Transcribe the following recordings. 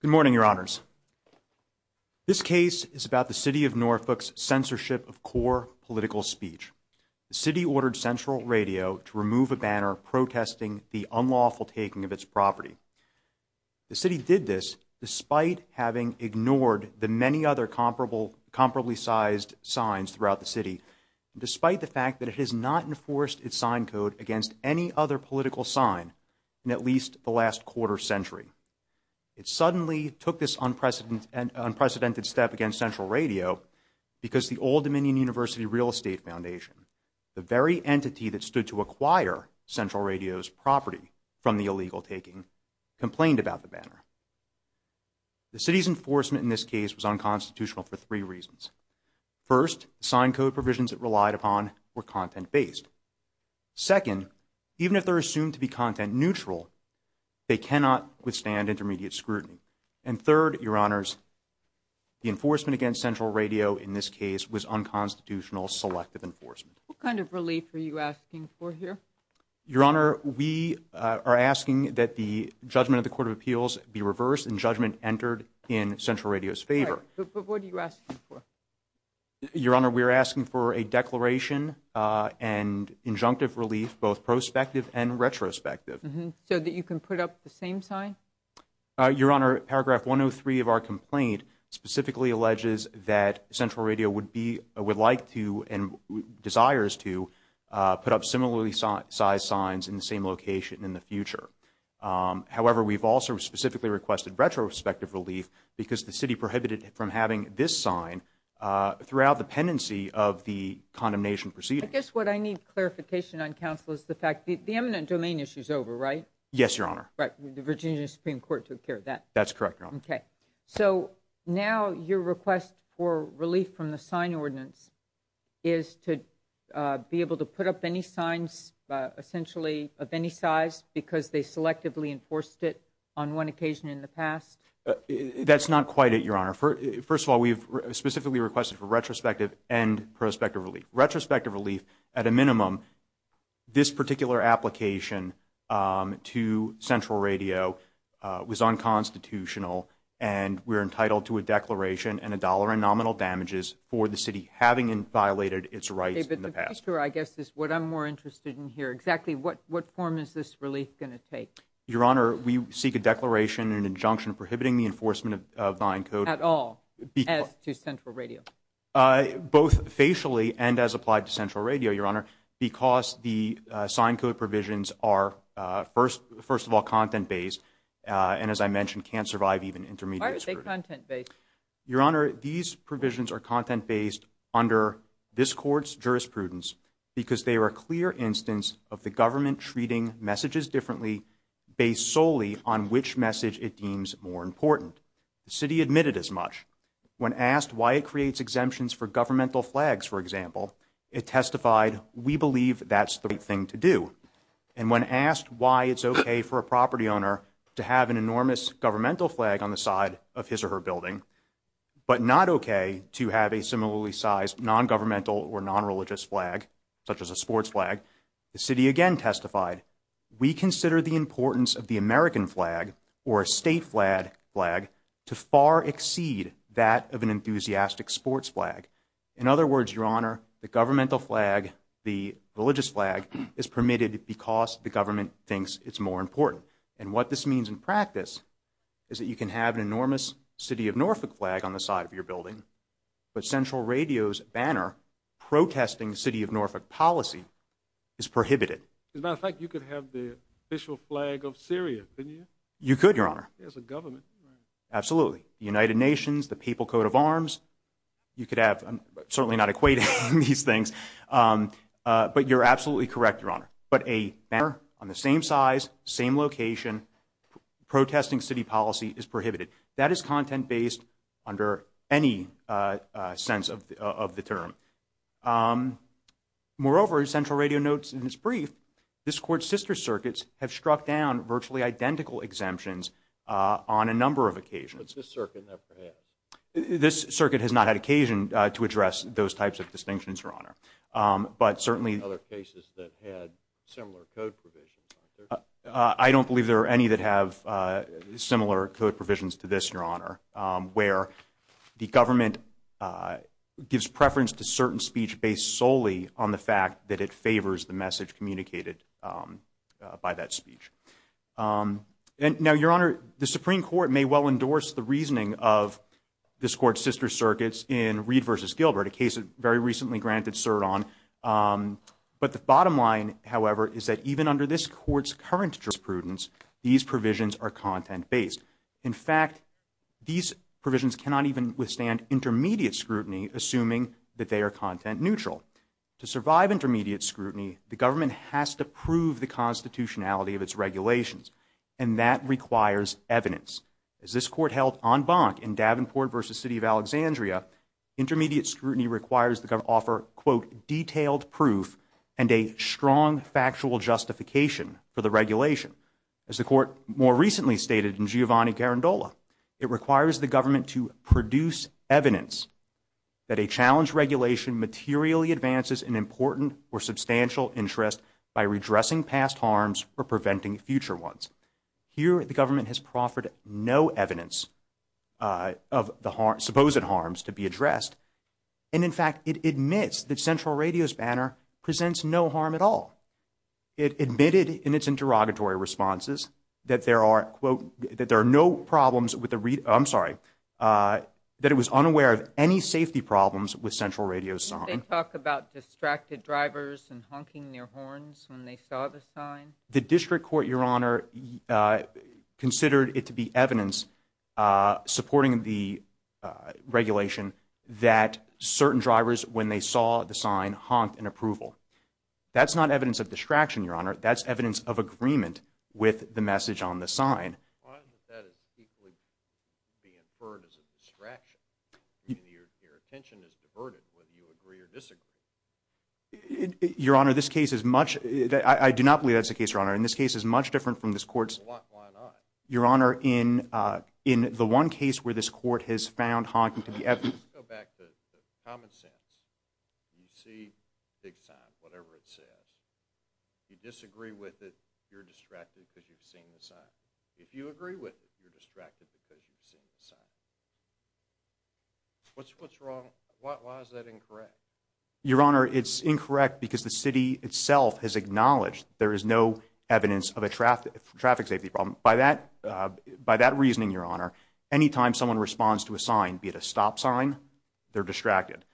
Good morning, Your Honors. This case is about the City of Norfolk's censorship of core political speech. The City ordered Central Radio to remove a banner protesting the unlawful taking of its property. The City did this despite having ignored the many other comparably sized signs throughout the City, despite the fact that it has not enforced its sign code against any other political sign in at least the last quarter century. It suddenly took this unprecedented step against Central Radio because the Old Dominion University Real Estate Foundation, the very entity that stood to acquire Central Radio's property from the illegal taking, complained about the banner. The City's enforcement in this case was unconstitutional for three reasons. First, the sign code provisions it relied upon were content-based. Second, even if they're assumed to be content-neutral, they cannot withstand intermediate scrutiny. And third, Your Honors, the enforcement against Central Radio in this case was unconstitutional selective enforcement. What kind of relief are you asking for here? Your Honor, we are asking that the judgment of the Court of Appeals be reversed and judgment entered in Central Radio's favor. But what are you asking for? Your Honor, we are asking for a declaration and injunctive relief, both prospective and retrospective. So that you can put up the same sign? Your Honor, Paragraph 103 of our complaint specifically alleges that Central Radio would be, would like to, and desires to, put up similarly sized signs in the same location in the future. However, we've also specifically requested retrospective relief because the City prohibited from having this sign throughout the pendency of the condemnation proceeding. I guess what I need clarification on, Counsel, is the fact that the eminent domain issue is over, right? Yes, Your Honor. Right, the Virginia Supreme Court took care of that? That's correct, Your Honor. Okay. So now your request for relief from the sign ordinance is to be able to put up any signs, essentially of any size, because they selectively enforced it on one occasion in the past? That's not quite it, Your Honor. First of all, we've specifically requested for retrospective and prospective relief. Retrospective relief, at a minimum, this particular application to Central Radio was unconstitutional and we're entitled to a declaration and a dollar in nominal damages for the City having violated its rights in the past. My answer, I guess, is what I'm more interested in here. Exactly what form is this relief going to take? Your Honor, we seek a declaration and an injunction prohibiting the enforcement of sign code. At all? As to Central Radio? Both facially and as applied to Central Radio, Your Honor, because the sign code provisions are, first of all, content-based and, as I mentioned, can't survive even intermediate scrutiny. Why are they content-based? Your Honor, these provisions are content-based under this Court's jurisprudence because they are a clear instance of the government treating messages differently based solely on which message it deems more important. The City admitted as much. When asked why it creates exemptions for governmental flags, for example, it testified, we believe that's the right thing to do. And when asked why it's okay for a property owner to have an enormous governmental flag on the side of his or her building, but not okay to have a similarly sized non-governmental or non-religious flag, such as a sports flag, the City again testified, we consider the importance of the American flag or a state flag to far exceed that of an enthusiastic sports flag. In other words, Your Honor, the governmental flag, the religious flag, is permitted because the government thinks it's more important. And what this means in practice is that you can have an enormous City of Norfolk flag on the side of your building, but Central Radio's banner protesting the City of Norfolk policy is prohibited. As a matter of fact, you could have the official flag of Syria, couldn't you? You could, Your Honor. As a government. Absolutely. The United Nations, the People's Coat of Arms, you could have, I'm certainly not equating these things, but you're absolutely correct, Your Honor. But a banner on the same size, same location, protesting City policy is prohibited. That is content-based under any sense of the term. Moreover, as Central Radio notes in its brief, this Court's sister circuits have struck down virtually identical exemptions on a number of occasions. But this circuit never had. This circuit has not had occasion to address those types of distinctions, Your Honor. But certainly... Other cases that had similar code provisions. I don't believe there are any that have similar code provisions to this, Your Honor, where the government gives preference to certain speech based solely on the fact that it favors the message communicated by that speech. And now, Your Honor, the Supreme Court may well endorse the reasoning of this Court's granted cert on. But the bottom line, however, is that even under this Court's current jurisprudence, these provisions are content-based. In fact, these provisions cannot even withstand intermediate scrutiny, assuming that they are content-neutral. To survive intermediate scrutiny, the government has to prove the constitutionality of its regulations. And that requires evidence. As this Court held en banc in Davenport v. City of Alexandria, intermediate scrutiny requires the government to offer, quote, detailed proof and a strong factual justification for the regulation. As the Court more recently stated in Giovanni Garandola, it requires the government to produce evidence that a challenge regulation materially advances an important or substantial interest by redressing past harms or preventing future ones. Here, the government has proffered no evidence of the supposed harms to be addressed. And in fact, it admits that Central Radio's banner presents no harm at all. It admitted in its interrogatory responses that there are, quote, that there are no problems with the, I'm sorry, that it was unaware of any safety problems with Central Radio's sign. Did they talk about distracted drivers and honking their horns when they saw the sign? The district court, Your Honor, considered it to be evidence supporting the regulation that certain drivers, when they saw the sign, honked in approval. That's not evidence of distraction, Your Honor. That's evidence of agreement with the message on the sign. Why is it that it's equally being inferred as a distraction? Your attention is diverted whether you agree or disagree. Your Honor, this case is much, I do not believe that's the case, Your Honor. And this case is much different from this court's. Why not? Your Honor, in the one case where this court has found honking to be evidence. Let's go back to common sense. You see the sign, whatever it says. You disagree with it, you're distracted because you've seen the sign. If you agree with it, you're distracted because you've seen the sign. What's wrong? Why is that incorrect? Your Honor, it's incorrect because the city itself has acknowledged there is no evidence of a traffic safety problem. By that reasoning, Your Honor, anytime someone responds to a sign, be it a stop sign, they're distracted.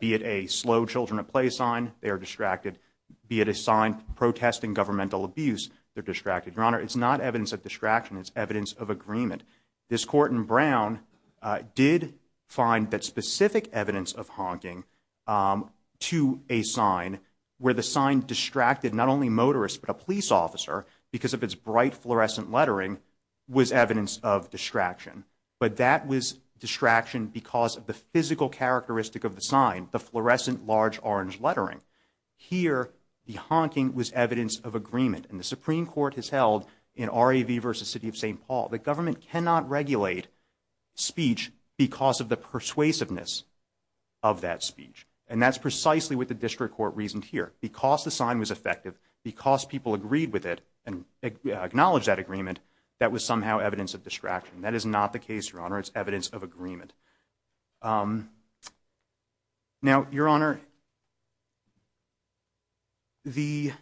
Be it a slow children at play sign, they are distracted. Be it a sign protesting governmental abuse, they're distracted. Your Honor, it's not evidence of distraction. It's evidence of agreement. This court in Brown did find that specific evidence of honking to a sign where the sign distracted not only motorists but a police officer because of its bright fluorescent lettering was evidence of distraction. But that was distraction because of the physical characteristic of the sign, the fluorescent large orange lettering. Here, the honking was evidence of agreement. The Supreme Court has held in R.A.V. versus City of St. Paul, the government cannot regulate speech because of the persuasiveness of that speech. And that's precisely what the district court reasoned here. Because the sign was effective, because people agreed with it and acknowledged that agreement, that was somehow evidence of distraction. That is not the case, Your Honor. It's evidence of agreement. Now, Your Honor, the,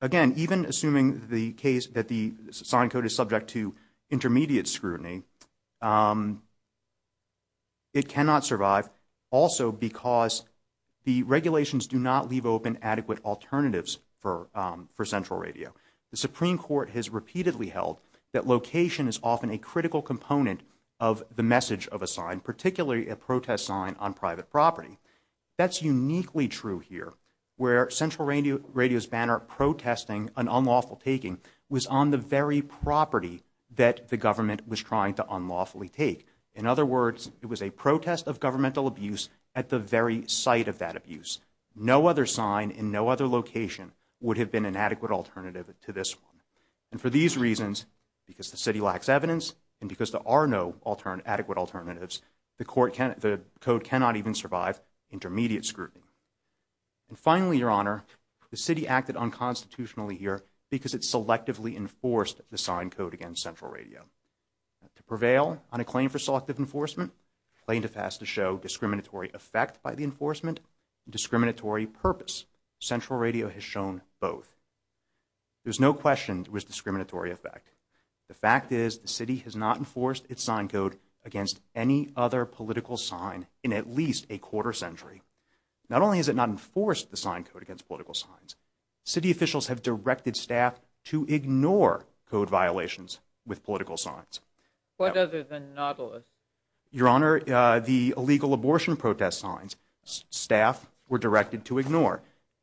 again, even assuming the case that the sign code is subject to intermediate scrutiny, it cannot survive also because the regulations do not leave open adequate alternatives for central radio. The Supreme Court has repeatedly held that location is often a critical component of the message of a sign, particularly a protest sign on private property. That's uniquely true here, where Central Radio's banner protesting an unlawful taking was on the very property that the government was trying to unlawfully take. In other words, it was a protest of governmental abuse at the very site of that abuse. No other sign in no other location would have been an adequate alternative to this one. And for these reasons, because the city lacks evidence and because there are no adequate alternatives, the code cannot even survive intermediate scrutiny. And finally, Your Honor, the city acted unconstitutionally here because it selectively enforced the sign code against Central Radio. To prevail on a claim for selective enforcement, plaintiff has to show discriminatory effect by the enforcement and discriminatory purpose. Central Radio has shown both. There's no question it was discriminatory effect. The fact is the city has not enforced its sign code against any other political sign in at least a quarter century. Not only has it not enforced the sign code against political signs, city officials have directed staff to ignore code violations with political signs. What other than Nautilus? Your Honor, the illegal abortion protest signs, staff were directed to ignore.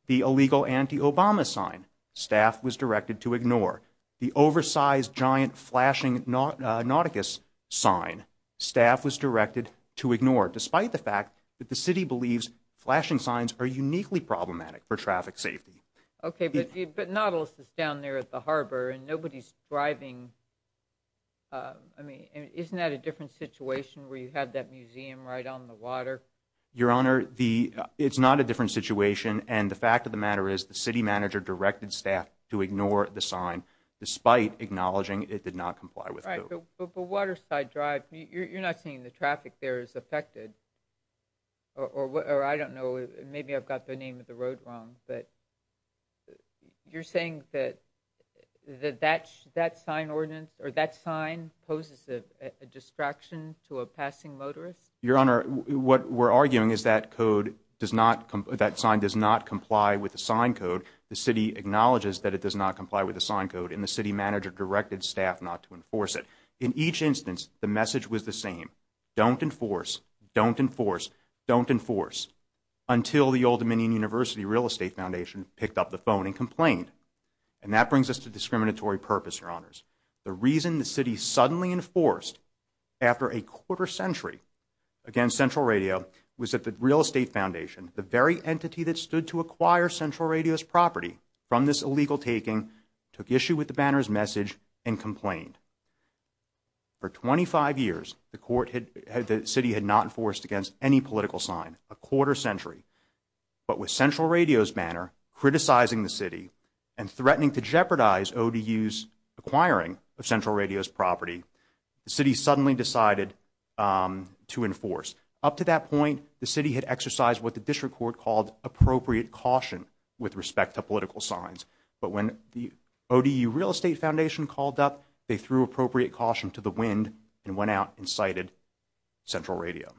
The illegal anti-Obama sign, staff was directed to ignore. The oversized giant flashing Nautilus sign, staff was directed to ignore, despite the fact that the city believes flashing signs are uniquely problematic for traffic safety. OK, but Nautilus is down there at the harbor and nobody's driving. I mean, isn't that a different situation where you had that museum right on the water? Your Honor, it's not a different situation. And the fact of the matter is the city manager directed staff to ignore the sign, despite acknowledging it did not comply with code. But the Waterside Drive, you're not saying the traffic there is affected or I don't know, maybe I've got the name of the road wrong, but you're saying that that sign ordinance or that sign poses a distraction to a passing motorist? Your Honor, what we're arguing is that code does not, that sign does not comply with the sign code. The city acknowledges that it does not comply with the sign code and the city manager directed staff not to enforce it. In each instance, the message was the same. Don't enforce, don't enforce, don't enforce, until the Old Dominion University Real Estate Foundation picked up the phone and complained. And that brings us to discriminatory purpose, Your Honors. The reason the city suddenly enforced after a quarter century against Central Radio was that the Real Estate Foundation, the very entity that stood to acquire Central Radio's property from this illegal taking, took issue with the banner's message and complained. For 25 years, the city had not enforced against any political sign, a quarter century. But with Central Radio's banner criticizing the city and threatening to jeopardize ODU's acquiring of Central Radio's property, the city suddenly decided to enforce. Up to that point, the city had exercised what the district court called appropriate caution with respect to political signs. But when the ODU Real Estate Foundation called up, they threw appropriate caution to the wind and went out and cited Central Radio.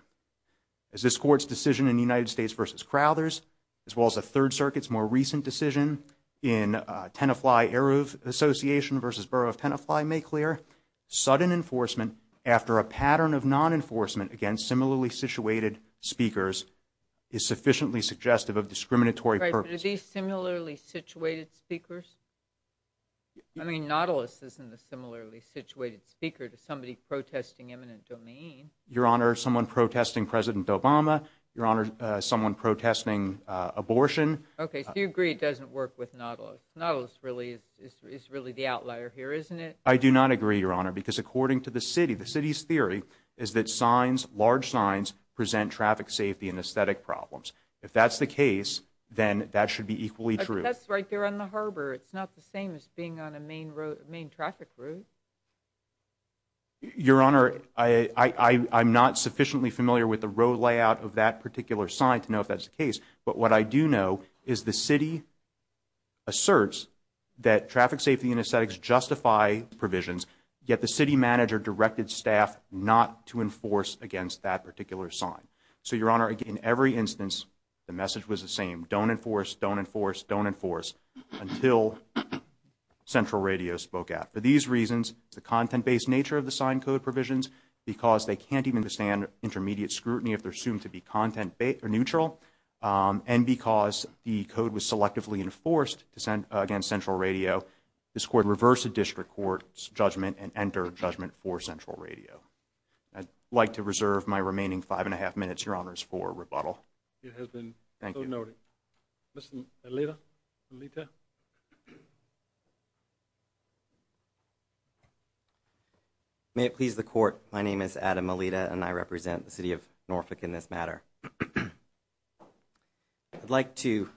As this court's decision in United States v. Crowthers, as well as the Third Circuit's more recent decision in Tenafly-Aruv Association v. Borough of Tenafly make clear, sudden enforcement after a pattern of non-enforcement against similarly situated speakers is sufficiently suggestive of discriminatory purposes. Right, but are these similarly situated speakers? I mean, Nautilus isn't a similarly situated speaker to somebody protesting eminent domain. Your Honor, someone protesting President Obama. Your Honor, someone protesting abortion. Okay, so you agree it doesn't work with Nautilus. Nautilus is really the outlier here, isn't it? I do not agree, Your Honor, because according to the city, the city's theory is that signs, large signs, present traffic safety and aesthetic problems. If that's the case, then that should be equally true. But that's right there on the harbor. It's not the same as being on a main traffic route. Your Honor, I'm not sufficiently familiar with the road layout of that particular sign to is the city asserts that traffic safety and aesthetics justify provisions, yet the city manager directed staff not to enforce against that particular sign. So, Your Honor, in every instance, the message was the same. Don't enforce, don't enforce, don't enforce until Central Radio spoke out. For these reasons, the content-based nature of the sign code provisions, because they can't even withstand intermediate scrutiny if they're assumed to be content-based or neutral, and because the code was selectively enforced against Central Radio, this Court reversed the District Court's judgment and entered judgment for Central Radio. I'd like to reserve my remaining five and a half minutes, Your Honors, for rebuttal. It has been so noted. Mr. Alita? May it please the Court, my name is Adam Alita, and I represent the City of Norfolk in this matter. I'd like to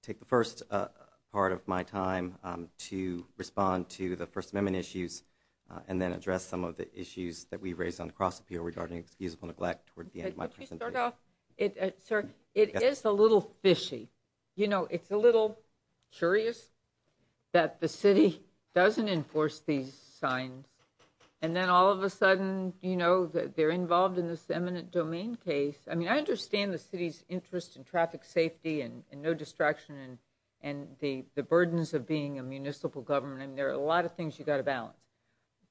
take the first part of my time to respond to the First Amendment issues and then address some of the issues that we raised on cross-appeal regarding excusable neglect toward the end of my presentation. Could you start off? Sir, it is a little fishy. You know, it's a little curious that the city doesn't enforce these signs, and then all of a sudden, you know, they're involved in this eminent domain case. I mean, I understand the City's interest in traffic safety and no distraction and the burdens of being a municipal government. I mean, there are a lot of things you've got to balance,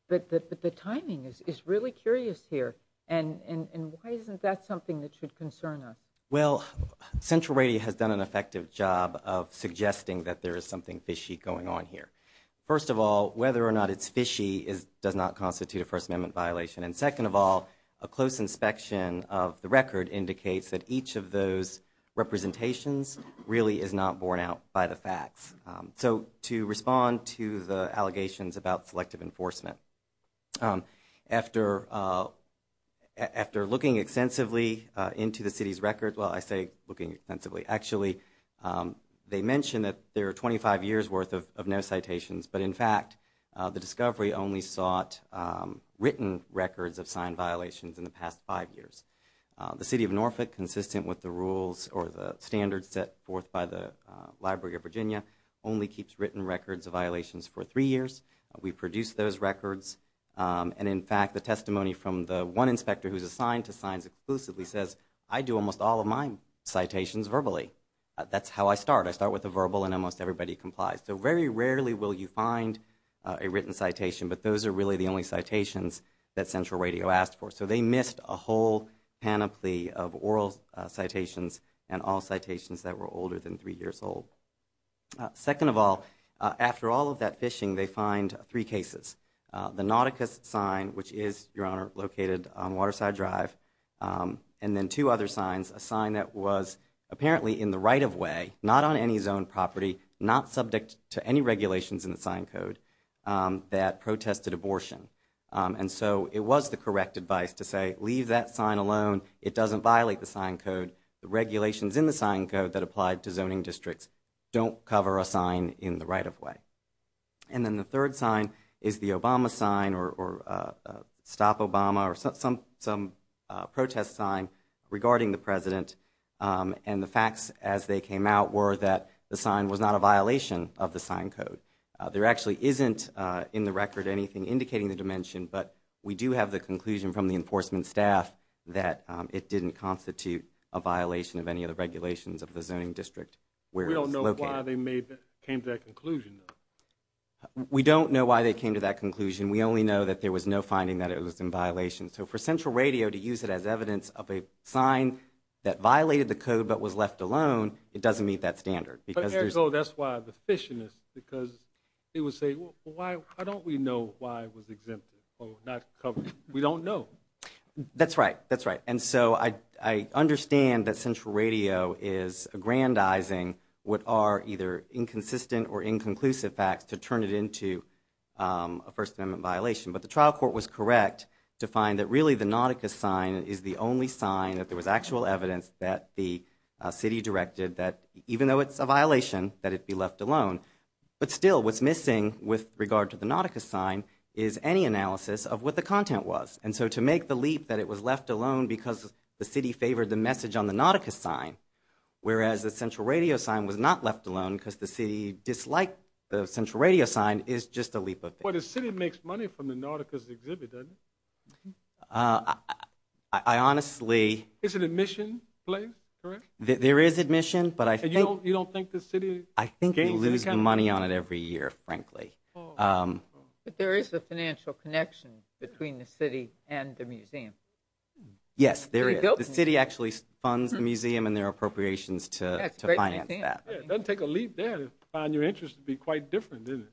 but the timing is really curious here, and why isn't that something that should concern us? Well, Central Radio has done an effective job of suggesting that there is something fishy going on here. First of all, whether or not it's fishy does not constitute a First Amendment violation, and second of all, a close inspection of the record indicates that each of those representations really is not borne out by the facts. So to respond to the allegations about selective enforcement, after looking extensively into the City's record, well, I say looking extensively. Actually, they mention that there are 25 years' worth of no citations, but in fact, the discovery only sought written records of sign violations in the past five years. The City of Norfolk, consistent with the rules or the standards set forth by the Library of Virginia, only keeps written records of violations for three years. We produce those records, and in fact, the testimony from the one inspector who's assigned to signs exclusively says, I do almost all of my citations verbally. That's how I start. I start with a verbal, and almost everybody complies. Very rarely will you find a written citation, but those are really the only citations that Central Radio asked for, so they missed a whole panoply of oral citations and all citations that were older than three years old. Second of all, after all of that fishing, they find three cases. The Nauticus sign, which is, Your Honor, located on Waterside Drive, and then two other signs, a sign that was apparently in the right-of-way, not on any zoned property, not subject to any regulations in the sign code that protested abortion. And so it was the correct advice to say, leave that sign alone. It doesn't violate the sign code. The regulations in the sign code that applied to zoning districts don't cover a sign in the right-of-way. And then the third sign is the Obama sign, or Stop Obama, or some protest sign regarding the President, and the facts as they came out were that the sign was not a violation of the sign code. There actually isn't, in the record, anything indicating the dimension, but we do have the conclusion from the enforcement staff that it didn't constitute a violation of any of the regulations of the zoning district where it's located. We don't know why they came to that conclusion, though. We don't know why they came to that conclusion. We only know that there was no finding that it was in violation. So for Central Radio to use it as evidence of a sign that violated the code but was left alone, it doesn't meet that standard. But Eric, that's why the fish in this, because they would say, why don't we know why it was exempted or not covered? We don't know. That's right. That's right. And so I understand that Central Radio is aggrandizing what are either inconsistent or inconclusive facts to turn it into a First Amendment violation. But the trial court was correct to find that really the Nautica sign is the only sign that there was actual evidence that the city directed that, even though it's a violation, that it be left alone. But still, what's missing with regard to the Nautica sign is any analysis of what the content was. And so to make the leap that it was left alone because the city favored the message on the Nautica sign, whereas the Central Radio sign was not left alone because the city disliked the Central Radio sign is just a leap of faith. The city makes money from the Nautica's exhibit, doesn't it? I honestly. Is it an admission place, correct? There is admission, but I think. You don't think the city gains income? I think you lose money on it every year, frankly. But there is a financial connection between the city and the museum. Yes, there is. The city actually funds the museum and their appropriations to finance that. Yeah, it doesn't take a leap there to find your interest would be quite different, doesn't it?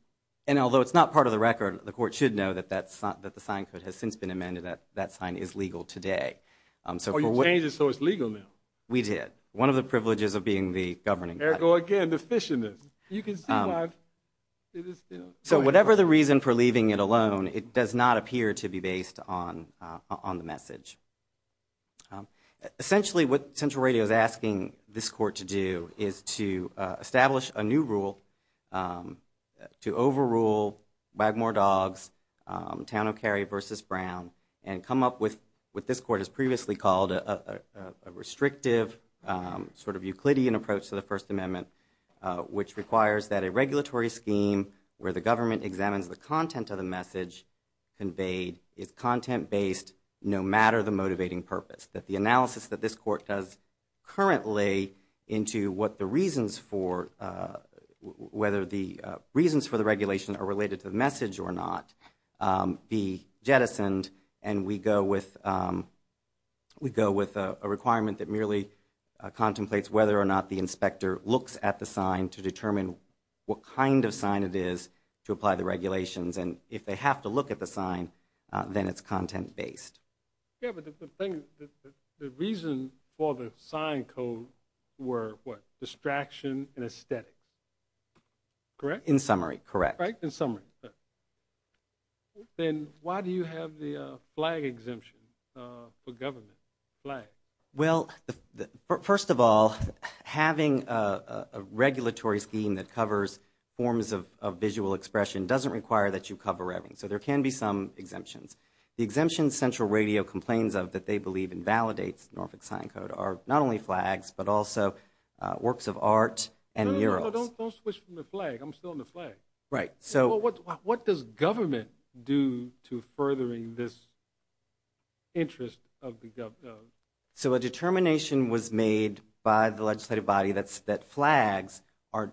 And although it's not part of the record, the court should know that the sign code has since been amended, that that sign is legal today. Oh, you changed it so it's legal now? We did. One of the privileges of being the governing. Ergo, again, deficientness. You can see why it is still. So whatever the reason for leaving it alone, it does not appear to be based on the message. Essentially, what Central Radio is asking this court to do is to establish a new rule to overrule Wagmore Dogs, Town O'Carrie versus Brown, and come up with what this court has previously called a restrictive sort of Euclidean approach to the First Amendment, which requires that a regulatory scheme where the government examines the content of the message conveyed is content-based no matter the motivating purpose. That the analysis that this court does currently into whether the reasons for the regulation are related to the message or not be jettisoned, and we go with a requirement that merely contemplates whether or not the inspector looks at the sign to determine what kind of sign it is to apply the regulations. And if they have to look at the sign, then it's content-based. Yeah, but the reason for the sign code were what? Distraction and aesthetic. Correct? In summary, correct. Right, in summary. Then why do you have the flag exemption for government? Flag. Well, first of all, having a regulatory scheme that covers forms of visual expression doesn't require that you cover everything. So there can be some exemptions. The exemptions Central Radio complains of that they believe invalidates Norfolk Sign Code are not only flags, but also works of art and murals. No, no, no, don't switch from the flag. I'm still on the flag. Right, so. What does government do to furthering this interest of the government? So a determination was made by the legislative body that flags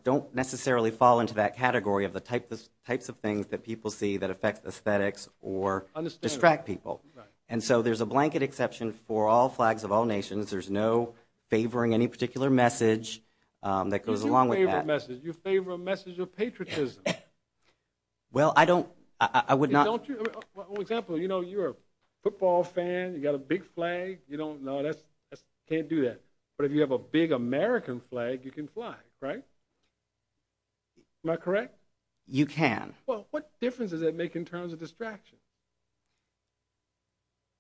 don't necessarily fall into that category of the types of things that people see that affect aesthetics or. Distract people. And so there's a blanket exception for all flags of all nations. There's no favoring any particular message that goes along with that. You favor a message of patriotism. Well, I don't, I would not. Don't you, for example, you know, you're a football fan. You got a big flag. You don't, no, that's, can't do that. But if you have a big American flag, you can fly, right? Am I correct? You can. Well, what difference does that make in terms of distraction?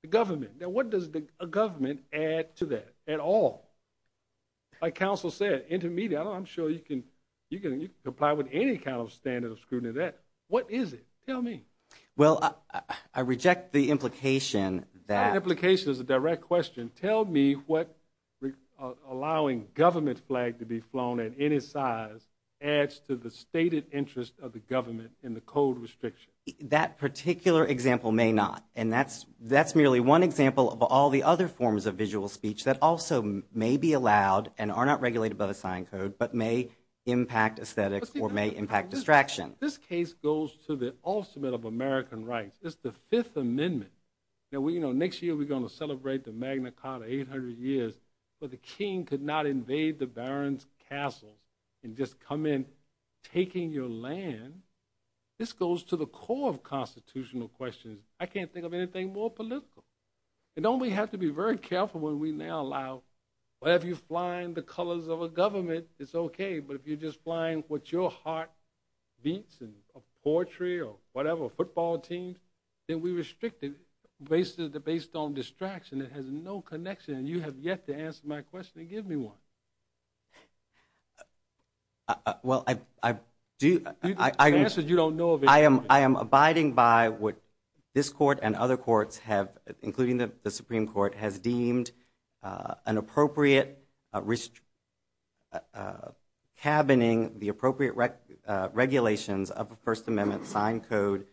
The government. Now, what does the government add to that at all? Like counsel said, intermediate, I'm sure you can, you can apply with any kind of standard of scrutiny that what is it? Tell me. Well, I reject the implication that. Implication is a direct question. Tell me what allowing government flag to be flown at any size adds to the stated interest of the government in the code restriction. That particular example may not. And that's, that's merely one example of all the other forms of visual speech that also may be allowed and are not regulated by the sign code, but may impact aesthetics or may impact distraction. This case goes to the ultimate of American rights. It's the fifth amendment. Now we, you know, next year we're going to celebrate the Magna Carta 800 years, but the king could not invade the barons castles and just come in taking your land. This goes to the core of constitutional questions. I can't think of anything more political. And don't we have to be very careful when we now allow, but if you flying the colors of a government, it's okay. But if you're just flying what your heart beats and a poetry or whatever football team, then we restricted based on distraction. It has no connection. And you have yet to answer my question and give me one. Uh, uh, well, I, I do, I answered, you don't know. I am, I am abiding by what this court and other courts have, including the Supreme court has deemed, uh, an appropriate, uh, risk, uh, cabining the appropriate rec, uh, regulations of the first amendment sign code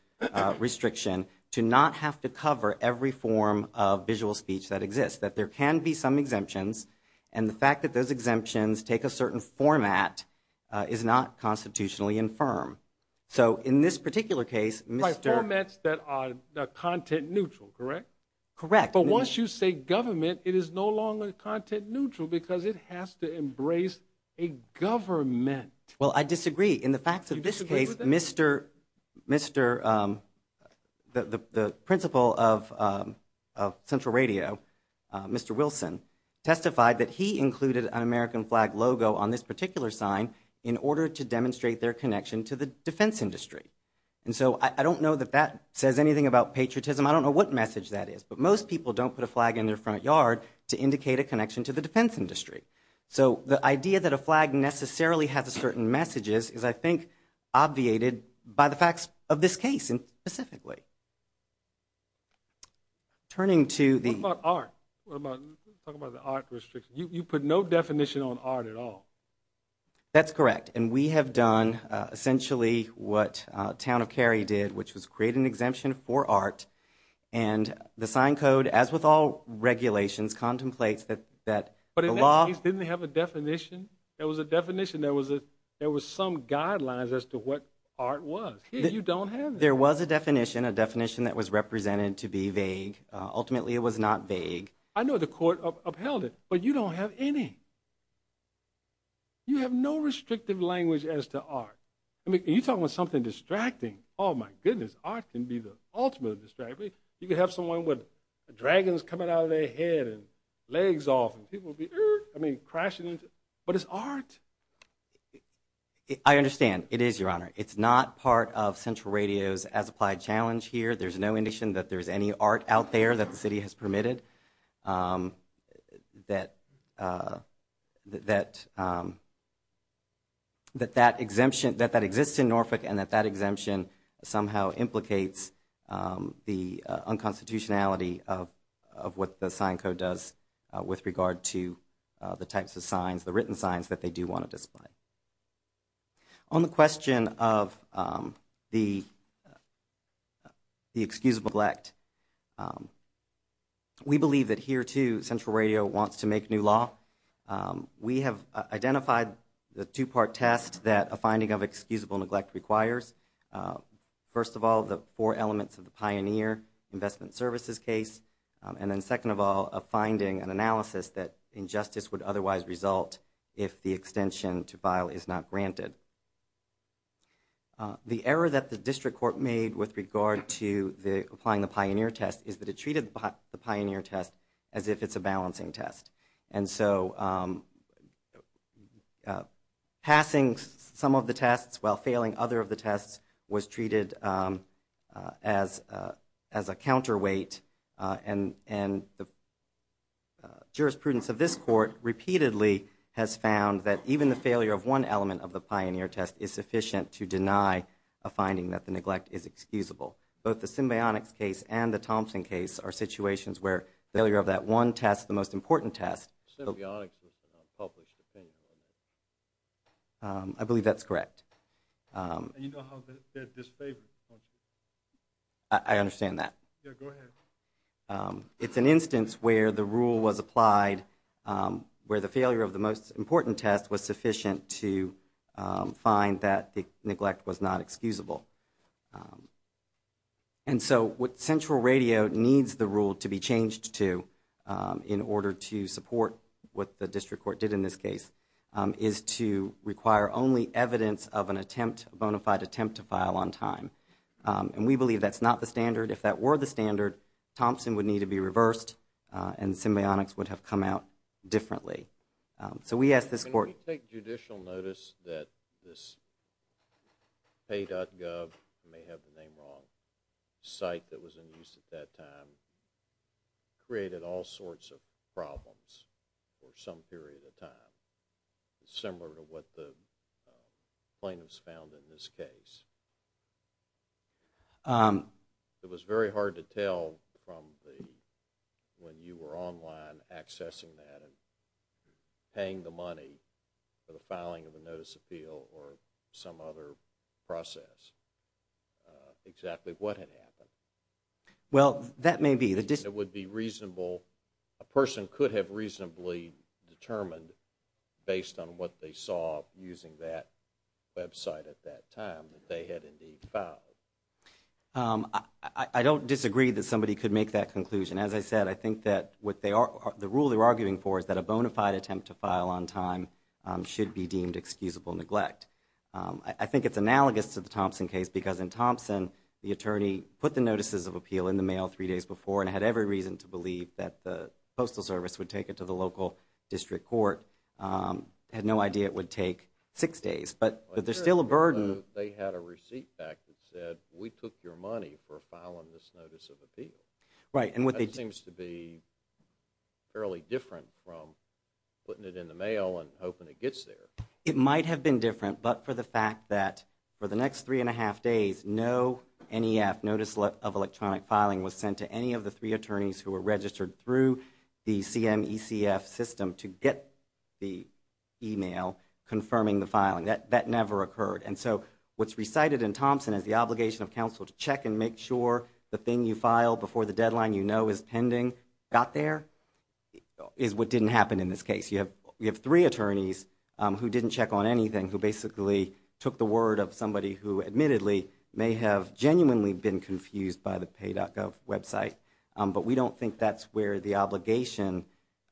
restriction to not have to cover every form of visual speech that exists, that there can be some exemptions. And the fact that those exemptions take a certain format, uh, is not constitutionally infirm. So in this particular case, my formats that are content neutral, correct? Correct. But once you say government, it is no longer content neutral because it has to embrace a government. Well, I disagree in the facts of this case, Mr. Mr. Um, the, the, the principal of, um, of central radio, uh, Mr. Wilson testified that he included an American flag logo on this particular sign in order to demonstrate their connection to the defense industry. And so I don't know that that says anything about patriotism. I don't know what message that is, but most people don't put a flag in their front yard to indicate a connection to the defense industry. So the idea that a flag necessarily has a certain messages is, I think, obviated by the facts of this case. And specifically turning to the art restriction, you put no definition on art at all. That's correct. And we have done, uh, essentially what a town of carry did, which was create an exemption for art and the sign code, as with all regulations contemplates that, that, but it didn't have a definition. There was a definition. There was a, there was some guidelines as to what art was. You don't have. There was a definition, a definition that was represented to be vague. Ultimately it was not vague. I know the court upheld it, but you don't have any, you have no restrictive language as to art. I mean, you're talking about something distracting. Oh my goodness. Art can be the ultimate distracting. You could have someone with dragons coming out of their head and legs off and people would be, I mean, crashing into, but it's art. I understand. It is your honor. It's not part of central radios as applied challenge here. There's no indication that there's any art out there that the city has permitted. Um, that, uh, that, um, that that exemption that that exists in Norfolk and that that exemption somehow implicates, um, the unconstitutionality of, of what the sign code does with regard to the types of signs, the written signs that they do want to display. On the question of, um, the, uh, the excusable neglect, um, we believe that here too, central radio wants to make new law. Um, we have identified the two-part test that a finding of excusable neglect requires. Uh, first of all, the four elements of the pioneer investment services case. Um, and then second of all, a finding, an analysis that injustice would otherwise result if the extension to file is not granted. Uh, the error that the district court made with regard to the applying the pioneer test is that it treated the pioneer test as if it's a balancing test. And so, um, uh, passing some of the tests while failing other of the tests was treated, um, uh, as, uh, as a counterweight. Uh, and, and the, uh, jurisprudence of this court repeatedly has found that even the failure of one element of the pioneer test is sufficient to deny a finding that the neglect is excusable. Both the symbionics case and the Thompson case are situations where failure of that one test, the most important test, um, I believe that's correct. Um, I understand that. Um, it's an instance where the rule was applied, um, where the failure of the most important test was sufficient to, um, find that the neglect was not excusable. And so, what central radio needs the rule to be changed to, um, in order to support what the district court did in this case, um, is to require only evidence of an attempt, bona fide attempt to file on time. Um, and we believe that's not the standard. If that were the standard, Thompson would need to be reversed, uh, and symbionics would have come out differently. Um, so we ask this court. Can we take judicial notice that this pay.gov, you may have the name wrong, site that was in use at that time, created all sorts of problems for some period of time, similar to what the, uh, plaintiffs found in this case. Um, it was very hard to tell from the, when you were online accessing that and paying the money for the filing of the notice of appeal or some other process, uh, exactly what had happened. Well, that may be the district. It would be reasonable. A person could have reasonably determined based on what they saw using that website at that time that they had indeed filed. Um, I don't disagree that somebody could make that conclusion. As I said, I think that what they are, the rule they're arguing for is that a bona fide attempt to file on time, um, should be deemed excusable neglect. I think it's analogous to the Thompson case because in Thompson, the attorney put the postal service would take it to the local district court, um, had no idea it would take six days. But, but there's still a burden. They had a receipt back that said, we took your money for filing this notice of appeal. Right. And what they. Seems to be fairly different from putting it in the mail and hoping it gets there. It might have been different, but for the fact that for the next three and a half days, no NEF, notice of electronic filing was sent to any of the three attorneys who were registered through the CMECF system to get the email confirming the filing that, that never occurred. And so what's recited in Thompson as the obligation of counsel to check and make sure the thing you file before the deadline, you know, is pending got there is what didn't happen in this case. You have, you have three attorneys who didn't check on anything, who basically took the word of somebody who admittedly may have genuinely been confused by the pay.gov website. But we don't think that's where the obligation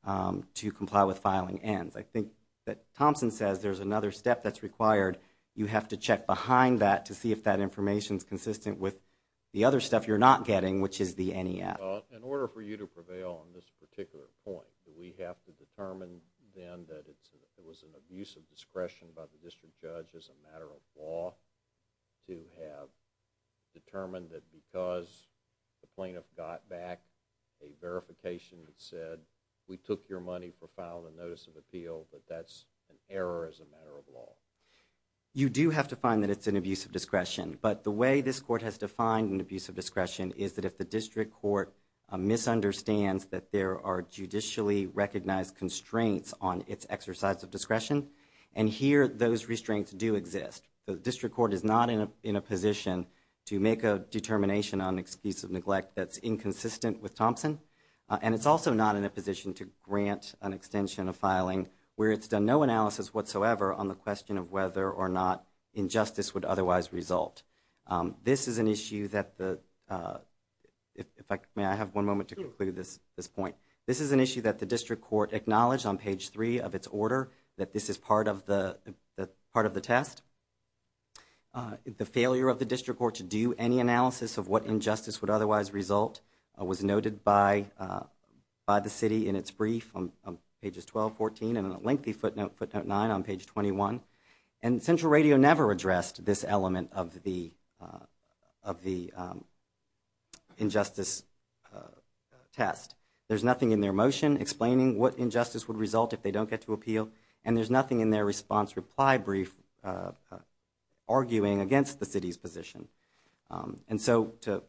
to comply with filing ends. I think that Thompson says there's another step that's required. You have to check behind that to see if that information is consistent with the other stuff you're not getting, which is the NEF. In order for you to prevail on this particular point, do we have to determine then that it was an abuse of discretion by the district judge as a matter of law to have determined that because the plaintiff got back a verification that said, we took your money for filing a notice of appeal, that that's an error as a matter of law? You do have to find that it's an abuse of discretion. But the way this court has defined an abuse of discretion is that if the district court misunderstands that there are judicially recognized constraints on its exercise of discretion, and here those restraints do exist. The district court is not in a position to make a determination on an excuse of neglect that's inconsistent with Thompson. And it's also not in a position to grant an extension of filing where it's done no analysis whatsoever on the question of whether or not injustice would otherwise result. This is an issue that the, may I have one moment to conclude this point? This is an issue that the district court acknowledged on page three of its order, that this is part of the part of the test. The failure of the district court to do any analysis of what injustice would otherwise result was noted by the city in its brief on pages 12, 14, and a lengthy footnote, footnote nine, on page 21. And Central Radio never addressed this element of the injustice test. There's nothing in their motion explaining what injustice would result if they don't get to appeal, and there's nothing in their response reply brief arguing against the city's position. And so to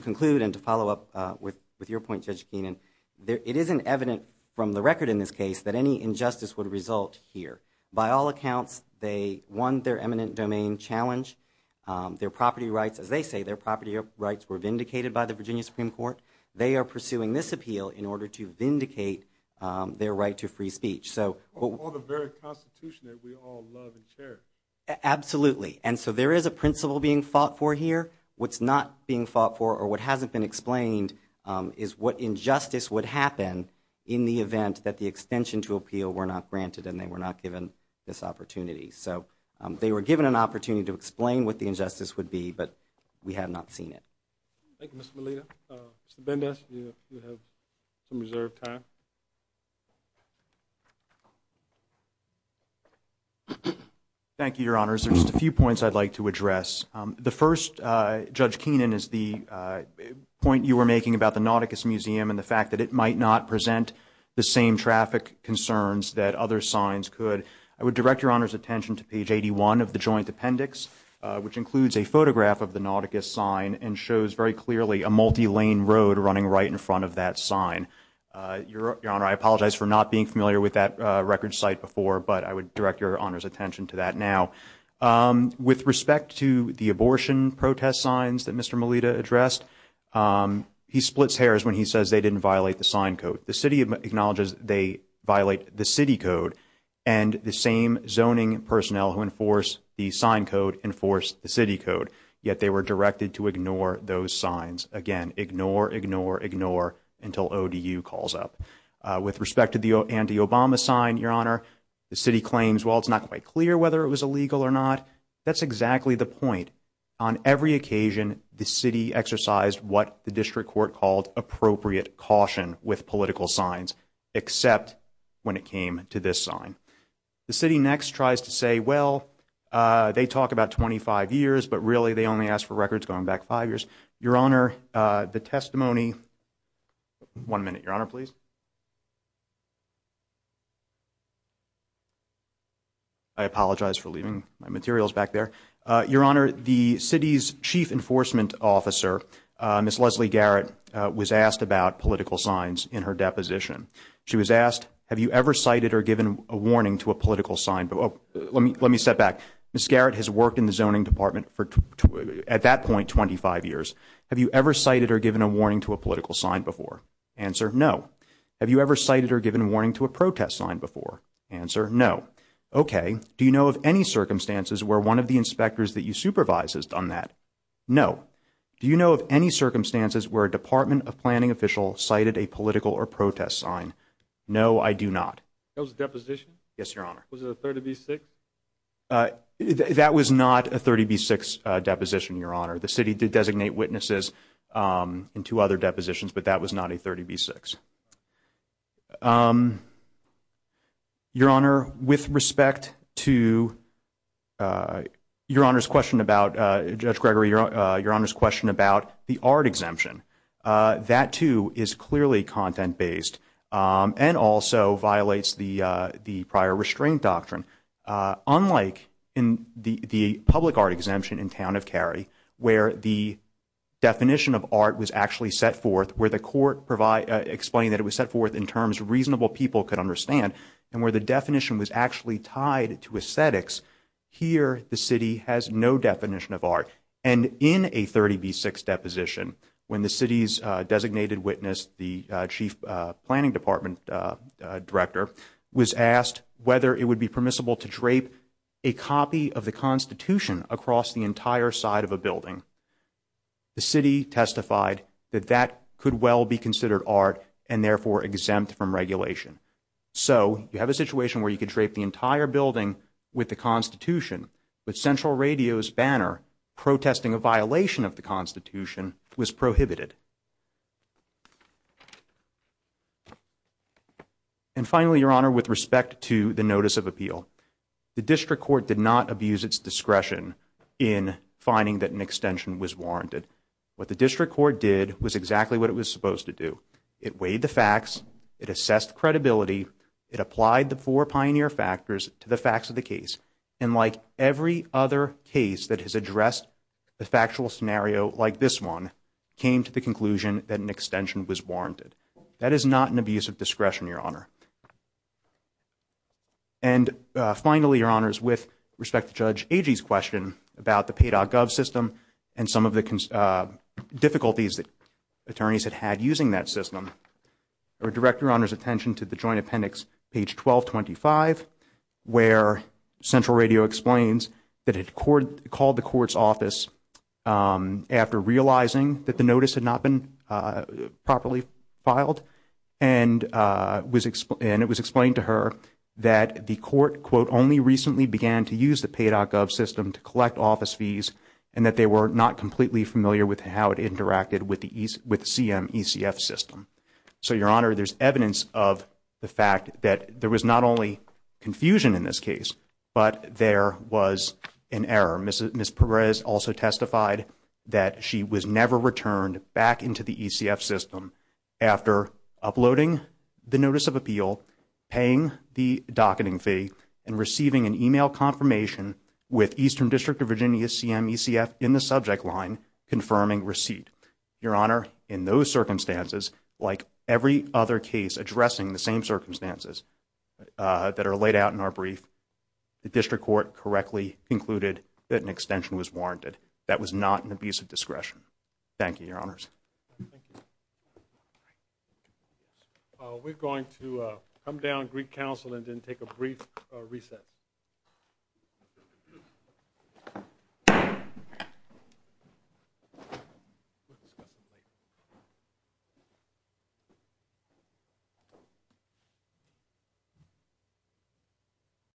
conclude and to follow up with your point, Judge Keenan, it isn't evident from the record in this case that any injustice would result here. By all accounts, they won their eminent domain challenge. Their property rights, as they say, their property rights were vindicated by the Virginia Supreme Court. They are pursuing this appeal in order to vindicate their right to free speech. So, all the very constitution that we all love and cherish. Absolutely. And so there is a principle being fought for here. What's not being fought for or what hasn't been explained is what injustice would happen in the event that the extension to appeal were not granted and they were not given this opportunity. So they were given an opportunity to explain what the injustice would be, but we have not seen it. Thank you, Mr. Melita. Mr. Bendis, you have some reserved time. Thank you, Your Honors. There's just a few points I'd like to address. The first, Judge Keenan, is the point you were making about the Nauticus Museum and the fact that it might not present the same traffic concerns that other signs could. I would direct Your Honor's attention to page 81 of the joint appendix, which includes a a multi-lane road running right in front of that sign. Your Honor, I apologize for not being familiar with that record site before, but I would direct Your Honor's attention to that now. With respect to the abortion protest signs that Mr. Melita addressed, he splits hairs when he says they didn't violate the sign code. The city acknowledges they violate the city code and the same zoning personnel who enforce the sign code enforce the city code. Yet, they were directed to ignore those signs. Again, ignore, ignore, ignore until ODU calls up. With respect to the anti-Obama sign, Your Honor, the city claims, well, it's not quite clear whether it was illegal or not. That's exactly the point. On every occasion, the city exercised what the district court called appropriate caution with political signs, except when it came to this sign. The city next tries to say, well, they talk about 25 years, but really they only ask for records going back five years. Your Honor, the testimony, one minute, Your Honor, please. I apologize for leaving my materials back there. Your Honor, the city's chief enforcement officer, Ms. Leslie Garrett, was asked about political signs in her deposition. She was asked, have you ever cited or given a warning to a political sign? Let me step back. Ms. Garrett has worked in the zoning department at that point 25 years. Have you ever cited or given a warning to a political sign before? Answer, no. Have you ever cited or given a warning to a protest sign before? Answer, no. Okay. Do you know of any circumstances where one of the inspectors that you supervise has done that? No. Do you know of any circumstances where a Department of Planning official cited a political or sign? No, I do not. That was a deposition? Yes, Your Honor. Was it a 30B6? That was not a 30B6 deposition, Your Honor. The city did designate witnesses in two other depositions, but that was not a 30B6. Your Honor, with respect to Your Honor's question about, Judge Gregory, Your Honor's question about the art exemption, that too is clearly content-based and also violates the prior restraint doctrine. Unlike in the public art exemption in Town of Cary, where the definition of art was actually set forth, where the court explained that it was set forth in terms reasonable people could understand, and where the definition was actually tied to aesthetics, here the city has no definition of art. And in a 30B6 deposition, when the city's designated witness, the Chief Planning Department Director, was asked whether it would be permissible to drape a copy of the Constitution across the entire side of a building, the city testified that that could well be considered art and therefore exempt from regulation. So you have a situation where you could drape the entire building with the Constitution, but Central Radio's banner protesting a violation of the Constitution was prohibited. And finally, Your Honor, with respect to the notice of appeal, the District Court did not abuse its discretion in finding that an extension was warranted. What the District Court did was exactly what it was supposed to do. It weighed the facts, it assessed credibility, it applied the four pioneer factors to the every other case that has addressed the factual scenario like this one, came to the conclusion that an extension was warranted. That is not an abuse of discretion, Your Honor. And finally, Your Honors, with respect to Judge Agee's question about the pay.gov system and some of the difficulties that attorneys had had using that system, I would direct Your Honor's attention to the Joint Appendix, page 1225, where Central Radio explains that it called the court's office after realizing that the notice had not been properly filed and it was explained to her that the court, quote, only recently began to use the pay.gov system to collect office fees and that they were not completely familiar with how it interacted with the CMECF system. So, Your Honor, there's evidence of the fact that there was not only confusion in this case, but there was an error. Ms. Perez also testified that she was never returned back into the ECF system after uploading the notice of appeal, paying the docketing fee, and receiving an email confirmation with Eastern District of Virginia CMECF in the subject line confirming receipt. Your Honor, in those circumstances, like every other case addressing the same circumstances that are laid out in our brief, the District Court correctly concluded that an extension was warranted. That was not an abuse of discretion. Thank you, Your Honors. Thank you. We're going to come down, greet counsel, and then take a brief reset.